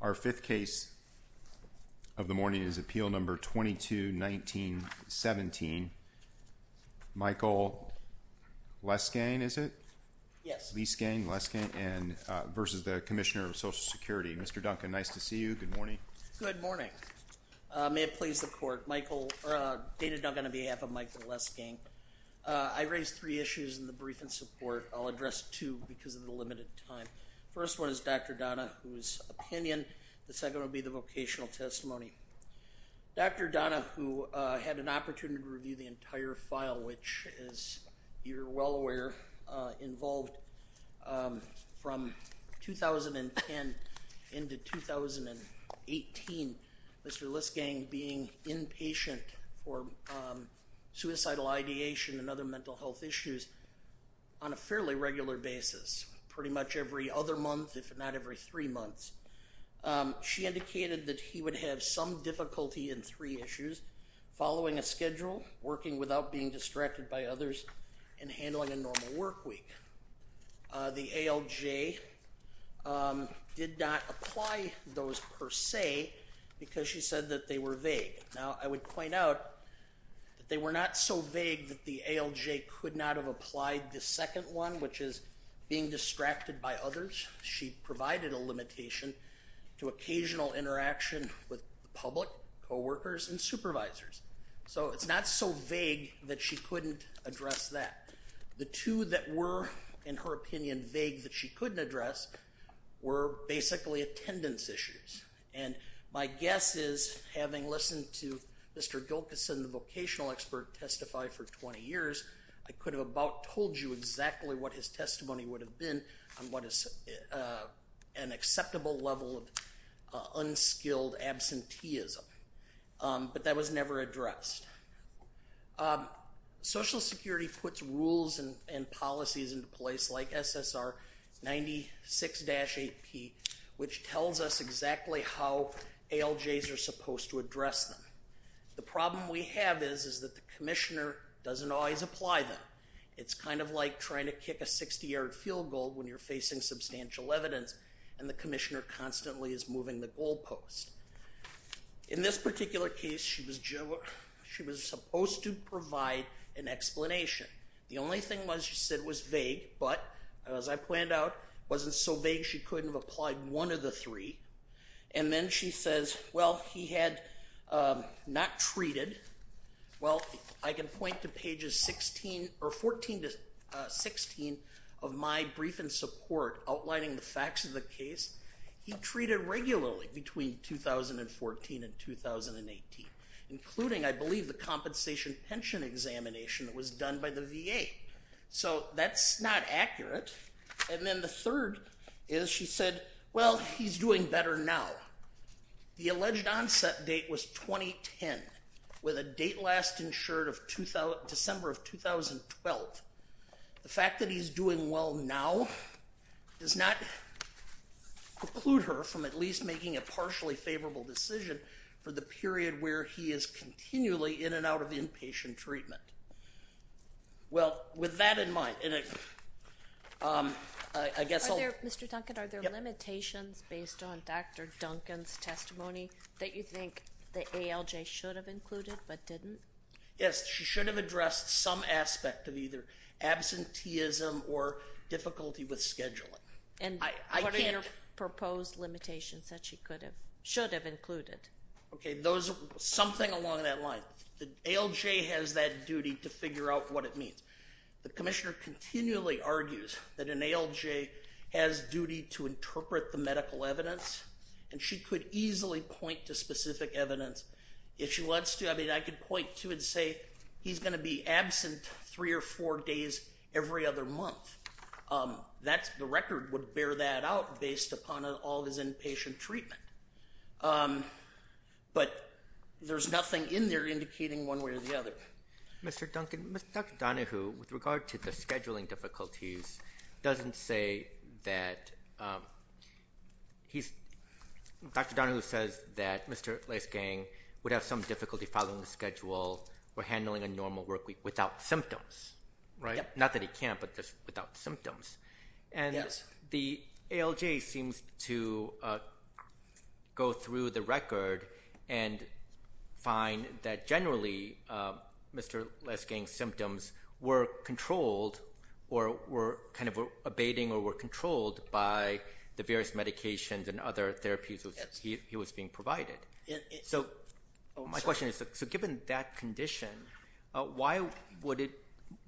Our fifth case of the morning is appeal number 22-19-17. Michael Leisgang, is it? Yes. Leisgang versus the Commissioner of Social Security. Mr. Duncan, nice to see you. Good morning. Good morning. May it please the court. David Duncan on behalf of Michael Leisgang. I raised three issues in the limited time. First one is Dr. Donna, whose opinion. The second will be the vocational testimony. Dr. Donna, who had an opportunity to review the entire file, which is, you're well aware, involved from 2010 into 2018, Mr. Leisgang being inpatient for suicidal ideation and other mental health issues on a fairly regular basis, pretty much every other month, if not every three months. She indicated that he would have some difficulty in three issues, following a schedule, working without being distracted by others, and handling a normal work week. The ALJ did not apply those per se because she said that they were vague. Now I would point out that they were not so vague that the ALJ could not have applied the second one, which is being distracted by others. She provided a limitation to occasional interaction with the public, co-workers, and supervisors. So it's not so vague that she couldn't address that. The two that were, in her opinion, vague that she couldn't address were basically attendance issues. And my guess is, having listened to Mr. Gilkyson, the vocational expert, testify for 20 years, I could have about told you exactly what his testimony would have been on what is an acceptable level of unskilled absenteeism. But that was never addressed. Social Security puts rules and policies into place, like SSR 96-8P, which tells us exactly how ALJs are that the commissioner doesn't always apply them. It's kind of like trying to kick a 60-yard field goal when you're facing substantial evidence and the commissioner constantly is moving the goal post. In this particular case, she was supposed to provide an explanation. The only thing she said was vague, but as I planned out, wasn't so vague she couldn't have applied one of the three. And then she says, well, he had not treated. Well, I can point to pages 14 to 16 of my brief in support, outlining the facts of the case. He treated regularly between 2014 and 2018, including, I believe, the compensation pension examination that was done by the VA. So that's not accurate. And then the he's doing better now. The alleged onset date was 2010, with a date last insured of December of 2012. The fact that he's doing well now does not preclude her from at least making a partially favorable decision for the period where he is continually in and out of inpatient treatment. Well, with that in it, I guess, Mr. Duncan, are there limitations based on Dr. Duncan's testimony that you think the ALJ should have included but didn't? Yes, she should have addressed some aspect of either absenteeism or difficulty with scheduling. And what are your proposed limitations that she could have, should have included? Okay, those, something along that line. The ALJ has that duty to figure out what it means. The Commissioner continually argues that an ALJ has duty to interpret the medical evidence, and she could easily point to specific evidence if she wants to. I mean, I could point to and say he's going to be absent three or four days every other month. That's, the record would bear that out based upon all his inpatient treatment. But there's nothing in there indicating one way or the other. Mr. Duncan, Dr. Donohue, with regard to the scheduling difficulties, doesn't say that he's, Dr. Donohue says that Mr. Lesgang would have some difficulty following the schedule or handling a normal workweek without symptoms, right? Not that he can't, but just without symptoms. And the ALJ seems to go through the record and find that generally Mr. Lesgang's symptoms were controlled or were kind of abating or were controlled by the various medications and other therapies which he was being provided. So my question is, so given that condition, why would it,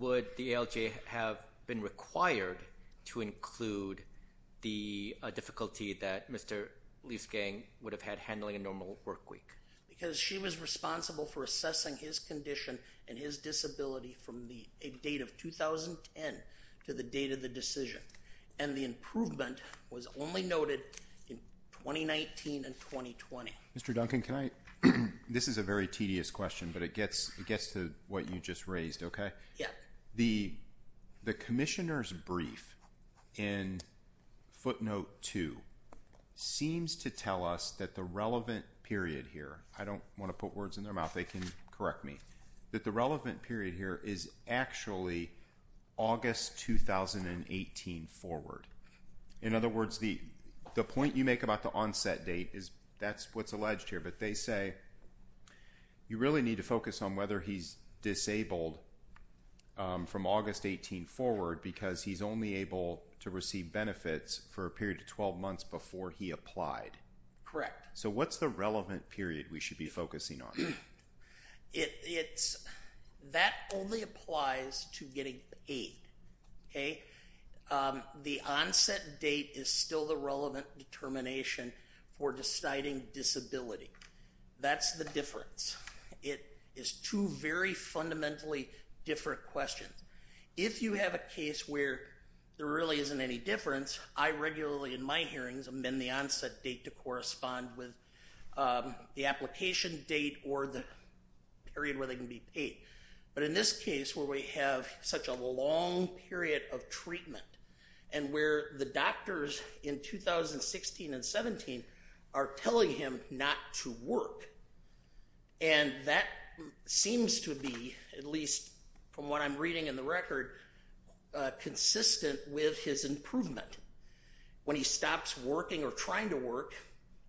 would the ALJ have been required to meet a difficulty that Mr. Lesgang would have had handling a normal workweek? Because she was responsible for assessing his condition and his disability from the date of 2010 to the date of the decision. And the improvement was only noted in 2019 and 2020. Mr. Duncan, can I, this is a very tedious question, but it gets, it gets to what you just raised, okay? Yeah. The ALJ number two seems to tell us that the relevant period here, I don't want to put words in their mouth, they can correct me, that the relevant period here is actually August 2018 forward. In other words, the the point you make about the onset date is, that's what's alleged here, but they say you really need to focus on whether he's disabled from August 18 forward because he's only able to get a period of 12 months before he applied. Correct. So what's the relevant period we should be focusing on? It's, that only applies to getting paid, okay? The onset date is still the relevant determination for deciding disability. That's the difference. It is two very fundamentally different questions. If you have a case where there really isn't any difference, I regularly in my hearings amend the onset date to correspond with the application date or the period where they can be paid. But in this case where we have such a long period of treatment and where the doctors in 2016 and 17 are telling him not to work, and that seems to be, at least from what I'm reading in the record, consistent with his improvement. When he stops working or trying to work,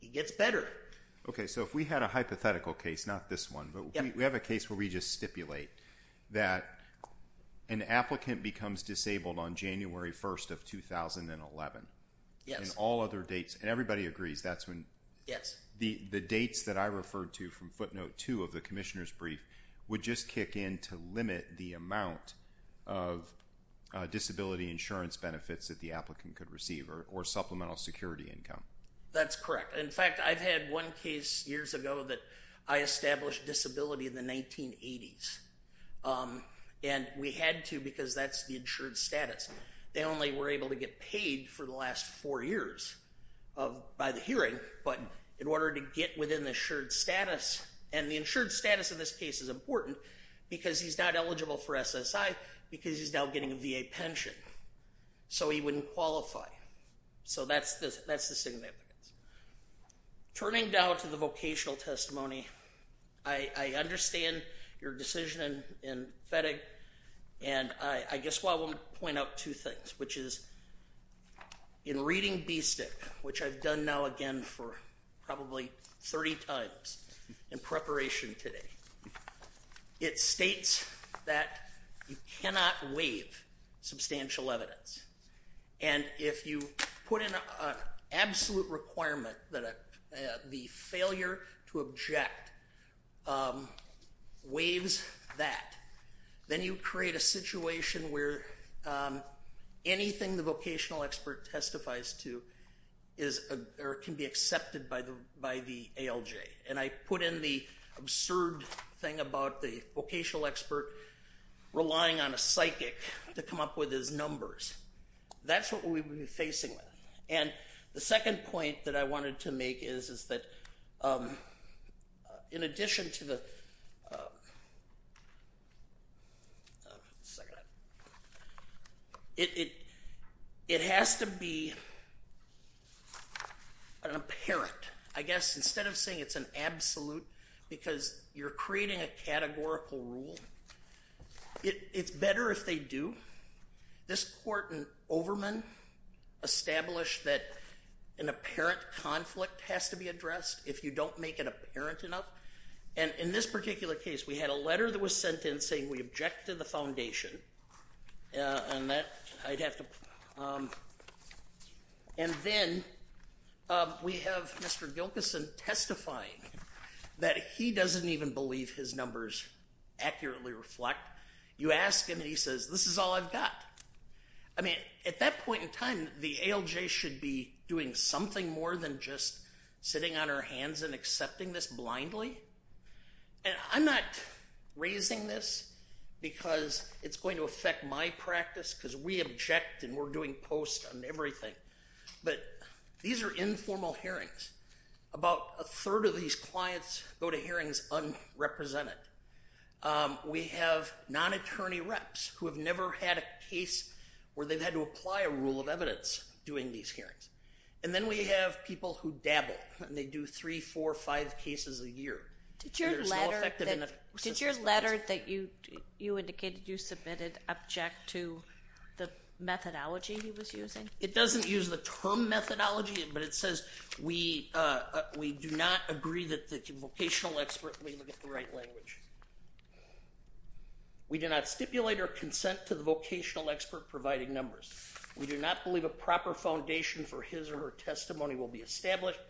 he gets better. Okay, so if we had a hypothetical case, not this one, but we have a case where we just stipulate that an applicant becomes disabled on January 1st of 2011. Yes. And all other dates, and everybody agrees, that's when, yes, the the dates that I would just kick in to limit the amount of disability insurance benefits that the applicant could receive or supplemental security income. That's correct. In fact, I've had one case years ago that I established disability in the 1980s, and we had to because that's the insured status. They only were able to get paid for the last four years of, by the hearing, but in order to get within assured status, and the insured status of this case is important because he's not eligible for SSI because he's now getting a VA pension, so he wouldn't qualify. So that's the significance. Turning down to the vocational testimony, I understand your decision in FedEx, and I guess what I want to point out two things, which is in reading BSTEC, which I've done now again for probably 30 times in preparation today, it states that you cannot waive substantial evidence, and if you put in an absolute requirement that the failure to object waives that, then you create a situation where anything the vocational expert testifies to can be accepted by the ALJ, and I put in the absurd thing about the vocational expert relying on a psychic to come up with his numbers. That's what we would be facing with, and the second point that I wanted to make is, is that in addition to the, it has to be an apparent, I guess instead of saying it's an absolute, because you're creating a categorical rule, it's addressed if you don't make it apparent enough, and in this particular case, we had a letter that was sent in saying we object to the foundation, and that I'd have to, and then we have Mr. Gilkyson testifying that he doesn't even believe his numbers accurately reflect. You ask him, and he says, this is all I've got. I mean, at that point in time, the ALJ should be doing something more than just sitting on our hands and accepting this blindly, and I'm not raising this because it's going to affect my practice, because we object, and we're doing post on everything, but these are informal hearings. About a third of these clients go to hearings unrepresented. We have non-attorney reps who have never had a case where they've had to apply a rule of evidence doing these hearings, and then we have people who dabble, and they do three, four, five cases a year. Did your letter that you indicated you submitted object to the methodology he was using? It doesn't use the term methodology, but it says we do not agree that the vocational expert may look at the right language. We do not stipulate our consent to the vocational expert providing numbers. We do not believe a proper foundation for his or her testimony will be established.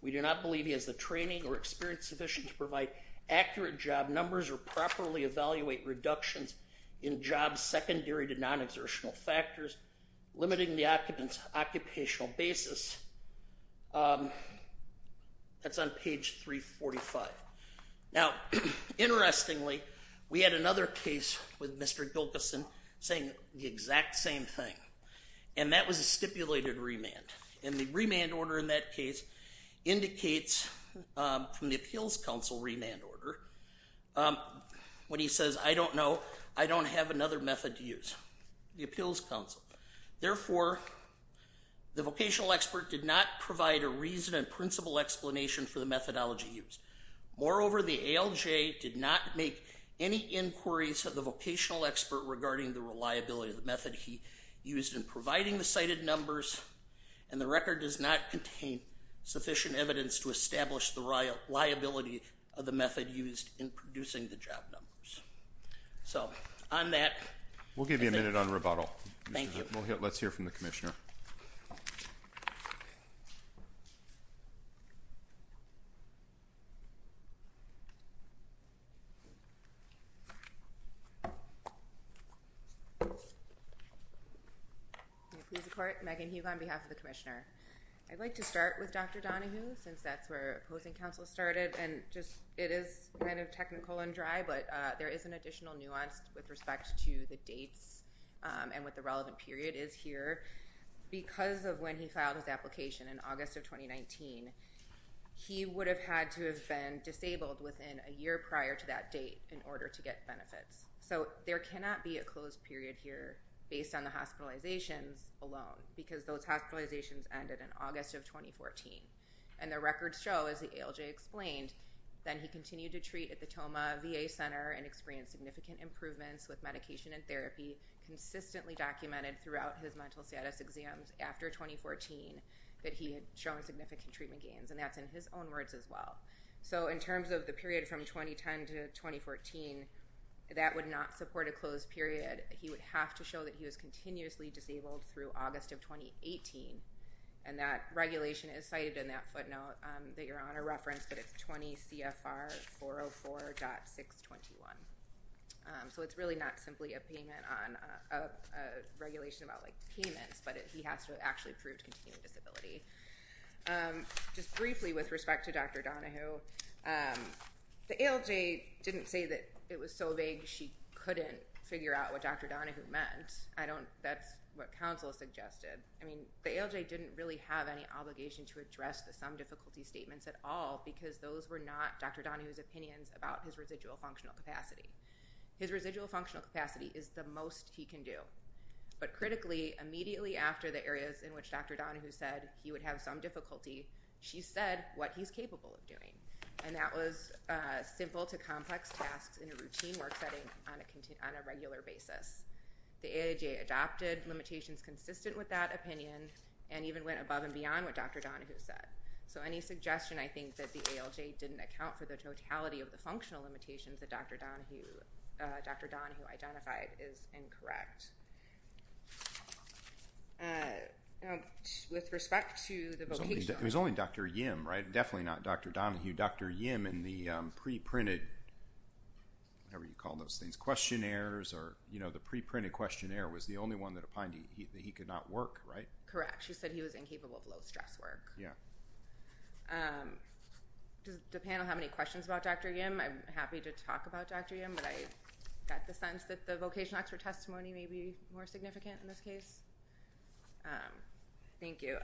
We do not believe he has the training or experience sufficient to provide accurate job numbers or properly evaluate reductions in jobs secondary to non-exertional factors, limiting the occupant's occupational basis. That's on page 345. Now, interestingly, we had another case with Mr. Gilkyson saying the exact same thing, and that was a stipulated remand, and the remand order in that case indicates from the Appeals Council remand order when he says, I don't know, I don't have another method to use. The Appeals Council. Therefore, the vocational expert did not provide a reason and principle explanation for the methodology used. Moreover, the ALJ did not make any inquiries of the vocational expert regarding the reliability of the method he used in providing the cited numbers, and the record does not contain sufficient evidence to establish the reliability of the method used in producing the job numbers. So, on that... We'll give you a minute on rebuttal. Thank you. Let's hear from the Commissioner. May it please the Court, Megan Hughe on behalf of the Commissioner. I'd like to start with Dr. Donohue, since that's where opposing counsel started, and just, it is kind of technical and dry, but there is an additional nuance with respect to the dates and what the relevant period is here. Because of when he filed his application in August of 2019, he would have had to have been disabled within a There cannot be a closed period here based on the hospitalizations alone, because those hospitalizations ended in August of 2014, and the records show, as the ALJ explained, that he continued to treat at the Tomah VA Center and experienced significant improvements with medication and therapy, consistently documented throughout his mental status exams after 2014, that he had shown significant treatment gains, and that's in his own words as well. So, in terms of the period from 2010 to 2014, that would not support a closed period. He would have to show that he was continuously disabled through August of 2018, and that regulation is cited in that footnote that your Honor referenced, but it's 20 CFR 404.621. So it's really not simply a payment on a regulation about, like, payments, but he has to have actually proved continuing disability. Just briefly with respect to Dr. Donahue, the ALJ didn't say that it was so vague she couldn't figure out what Dr. Donahue meant. I don't, that's what counsel suggested. I mean, the ALJ didn't really have any obligation to address the some difficulty statements at all, because those were not Dr. Donahue's opinions about his residual functional capacity. His residual functional capacity is the most he can do, but critically, immediately after the areas in which Dr. difficulty, she said what he's capable of doing, and that was simple to complex tasks in a routine work setting on a regular basis. The ALJ adopted limitations consistent with that opinion and even went above and beyond what Dr. Donahue said. So any suggestion, I think, that the ALJ didn't account for the totality of the functional limitations that Dr. Donahue identified is incorrect. With respect to the vocation... It was only Dr. Yim, right? Definitely not Dr. Donahue. Dr. Yim in the pre-printed, whatever you call those things, questionnaires or, you know, the pre-printed questionnaire was the only one that opined that he could not work, right? Correct. She said he was incapable of low-stress work. Yeah. Does the panel have any questions about Dr. Yim? I got the sense that the vocation expert testimony may be more significant in this case. Thank you.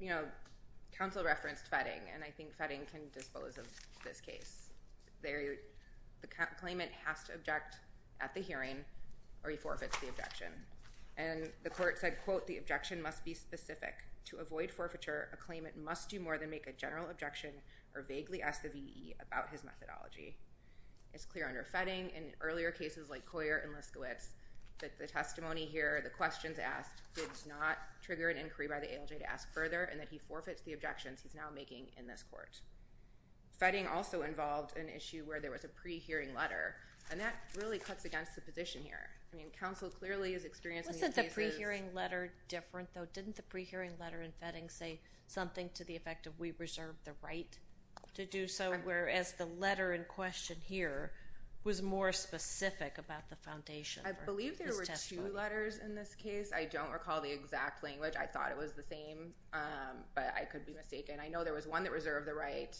You know, counsel referenced fetting, and I think fetting can dispose of this case. The claimant has to object at the hearing or he forfeits the objection, and the court said, quote, the objection must be specific. To avoid forfeiture, a claimant must do more than make a general objection or vaguely ask the VE about his methodology. It's clear under fetting, in earlier cases like Coyer and Liskowitz, that the testimony here, the questions asked, did not trigger an inquiry by the ALJ to ask further, and that he forfeits the objections he's now making in this court. Fetting also involved an issue where there was a pre-hearing letter, and that really cuts against the position here. I mean, counsel clearly is experiencing... Wasn't the pre-hearing letter different, though? Didn't the pre-hearing letter in fetting say something to the effect of, we reserve the right to do so, whereas the was more specific about the foundation? I believe there were two letters in this case. I don't recall the exact language. I thought it was the same, but I could be mistaken. I know there was one that reserved the right,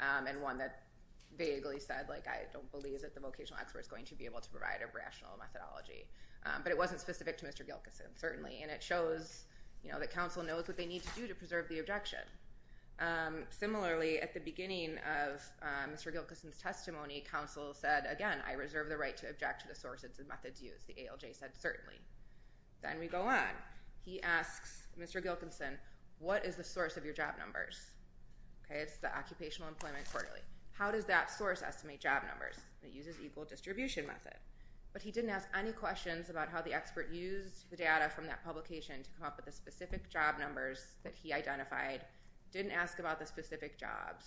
and one that vaguely said, like, I don't believe that the vocational expert is going to be able to provide a rational methodology. But it wasn't specific to Mr. Gilkyson, certainly, and it shows, you know, that counsel knows what they need to do to preserve the objection. Similarly, at the beginning of Mr. Gilkyson's testimony, counsel said, again, I reserve the right to object to the sources and methods used. The ALJ said, certainly. Then we go on. He asks Mr. Gilkyson, what is the source of your job numbers? Okay, it's the occupational employment quarterly. How does that source estimate job numbers? It uses equal distribution method. But he didn't ask any questions about how the expert used the data from that publication to come up with the specific job numbers that he identified, didn't ask about the specific jobs,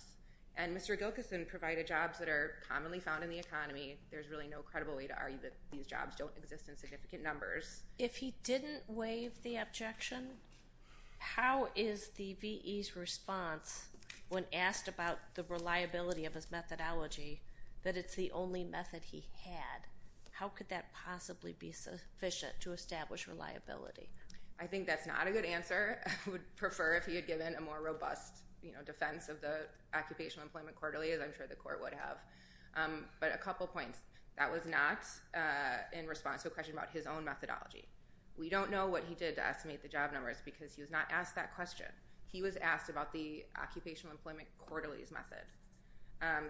and Mr. Gilkyson provided jobs that are commonly found in the economy. There's really no credible way to argue that these jobs don't exist in significant numbers. If he didn't waive the objection, how is the VE's response when asked about the reliability of his methodology that it's the only method he had? How could that possibly be sufficient to establish reliability? I think that's not a good answer. I would prefer if he had given a more robust, you know, defense of the occupational employment quarterly, as I'm sure the court would have. But a couple points. That was not in response to a question about his own methodology. We don't know what he did to estimate the job numbers because he was not asked that question. He was asked about the occupational employment quarterly's method.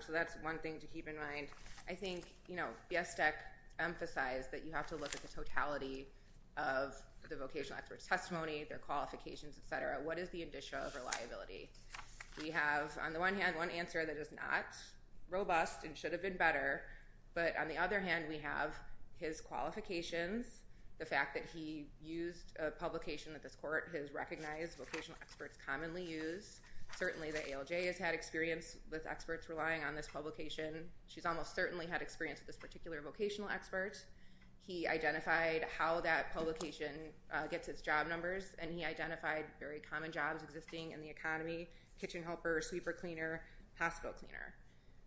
So that's one thing to keep in mind. I think, you know, BSDEC emphasized that you have to look at the totality of the vocational expert's testimony, their qualifications, etc. What is the one answer that is not robust and should have been better? But on the other hand, we have his qualifications, the fact that he used a publication that this court has recognized vocational experts commonly use. Certainly the ALJ has had experience with experts relying on this publication. She's almost certainly had experience with this particular vocational expert. He identified how that publication gets its job numbers and he identified very common jobs existing in the economy, kitchen helper, sweeper cleaner, hospital cleaner.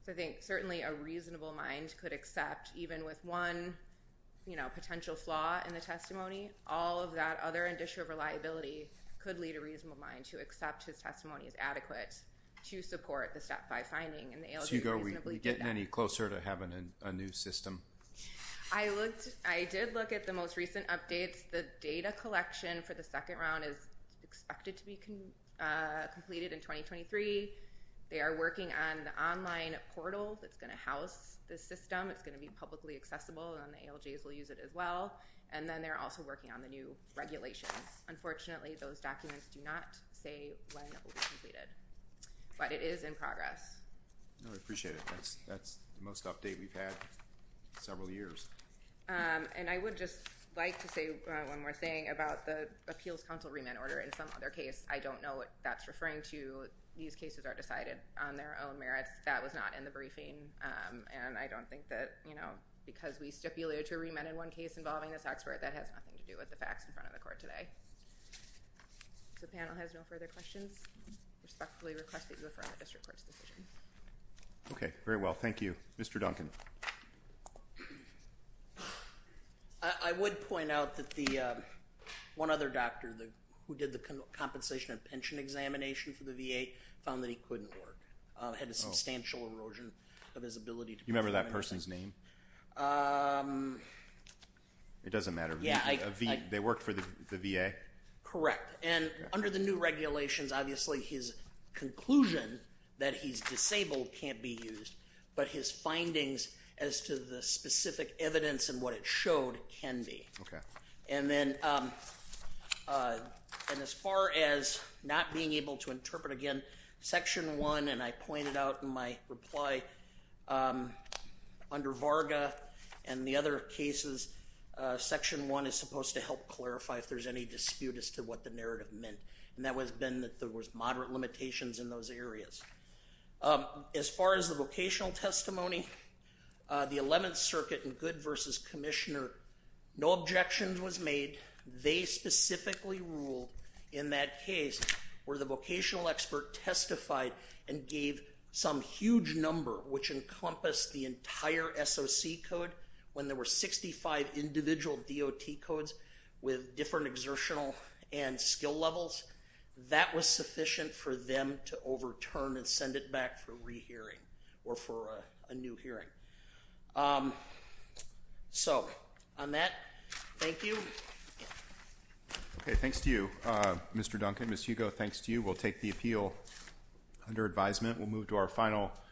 So I think certainly a reasonable mind could accept, even with one, you know, potential flaw in the testimony, all of that other indicia of reliability could lead a reasonable mind to accept his testimony as adequate to support the Step 5 finding and the ALJ reasonably did that. So are we getting any closer to having a new system? I looked, I did look at the most recent updates. The data collection for the second round is expected to be completed in 2023. They are working on the online portal that's going to house this system. It's going to be publicly accessible and the ALJs will use it as well. And then they're also working on the new regulations. Unfortunately, those documents do not say when it will be completed. But it is in progress. I appreciate it. That's the most update we've had several years. And I would just like to say one more thing about the Appeals Council remand order. In some other case, I don't know what that's referring to. These cases are decided on their own merits. That was not in the briefing. And I don't think that, you know, because we stipulated to a remand in one case involving this expert, that has nothing to do with the facts in front of the court today. If the panel has no further questions, I respectfully request that you affirm the District Court's decision. Okay, very well. Thank you. Mr. Duncan. I would point out that the one other doctor who did the compensation and pension examination for the VA found that he couldn't work. He had a substantial erosion of his ability. You remember that person's name? It doesn't matter. Yeah. They worked for the VA? Correct. And under the new regulations, obviously his conclusion that he's disabled can't be used. But his findings as to the specific evidence and what it showed can be. Okay. And then, and as far as not being able to interpret again, Section 1, and I pointed out in my reply, under Varga and the other cases, Section 1 is supposed to clarify if there's any dispute as to what the narrative meant. And that was been that there was moderate limitations in those areas. As far as the vocational testimony, the 11th Circuit in Good versus Commissioner, no objections was made. They specifically ruled in that case where the vocational expert testified and gave some huge number which encompassed the entire SOC code when there were 65 individual DOT codes with different exertional and skill levels. That was sufficient for them to overturn and send it back for rehearing or for a new hearing. So, on that, thank you. Okay. Thanks to you, Mr. Duncan. Ms. Hugo, thanks to you. We'll take the appeal under advisement. We'll move to our final.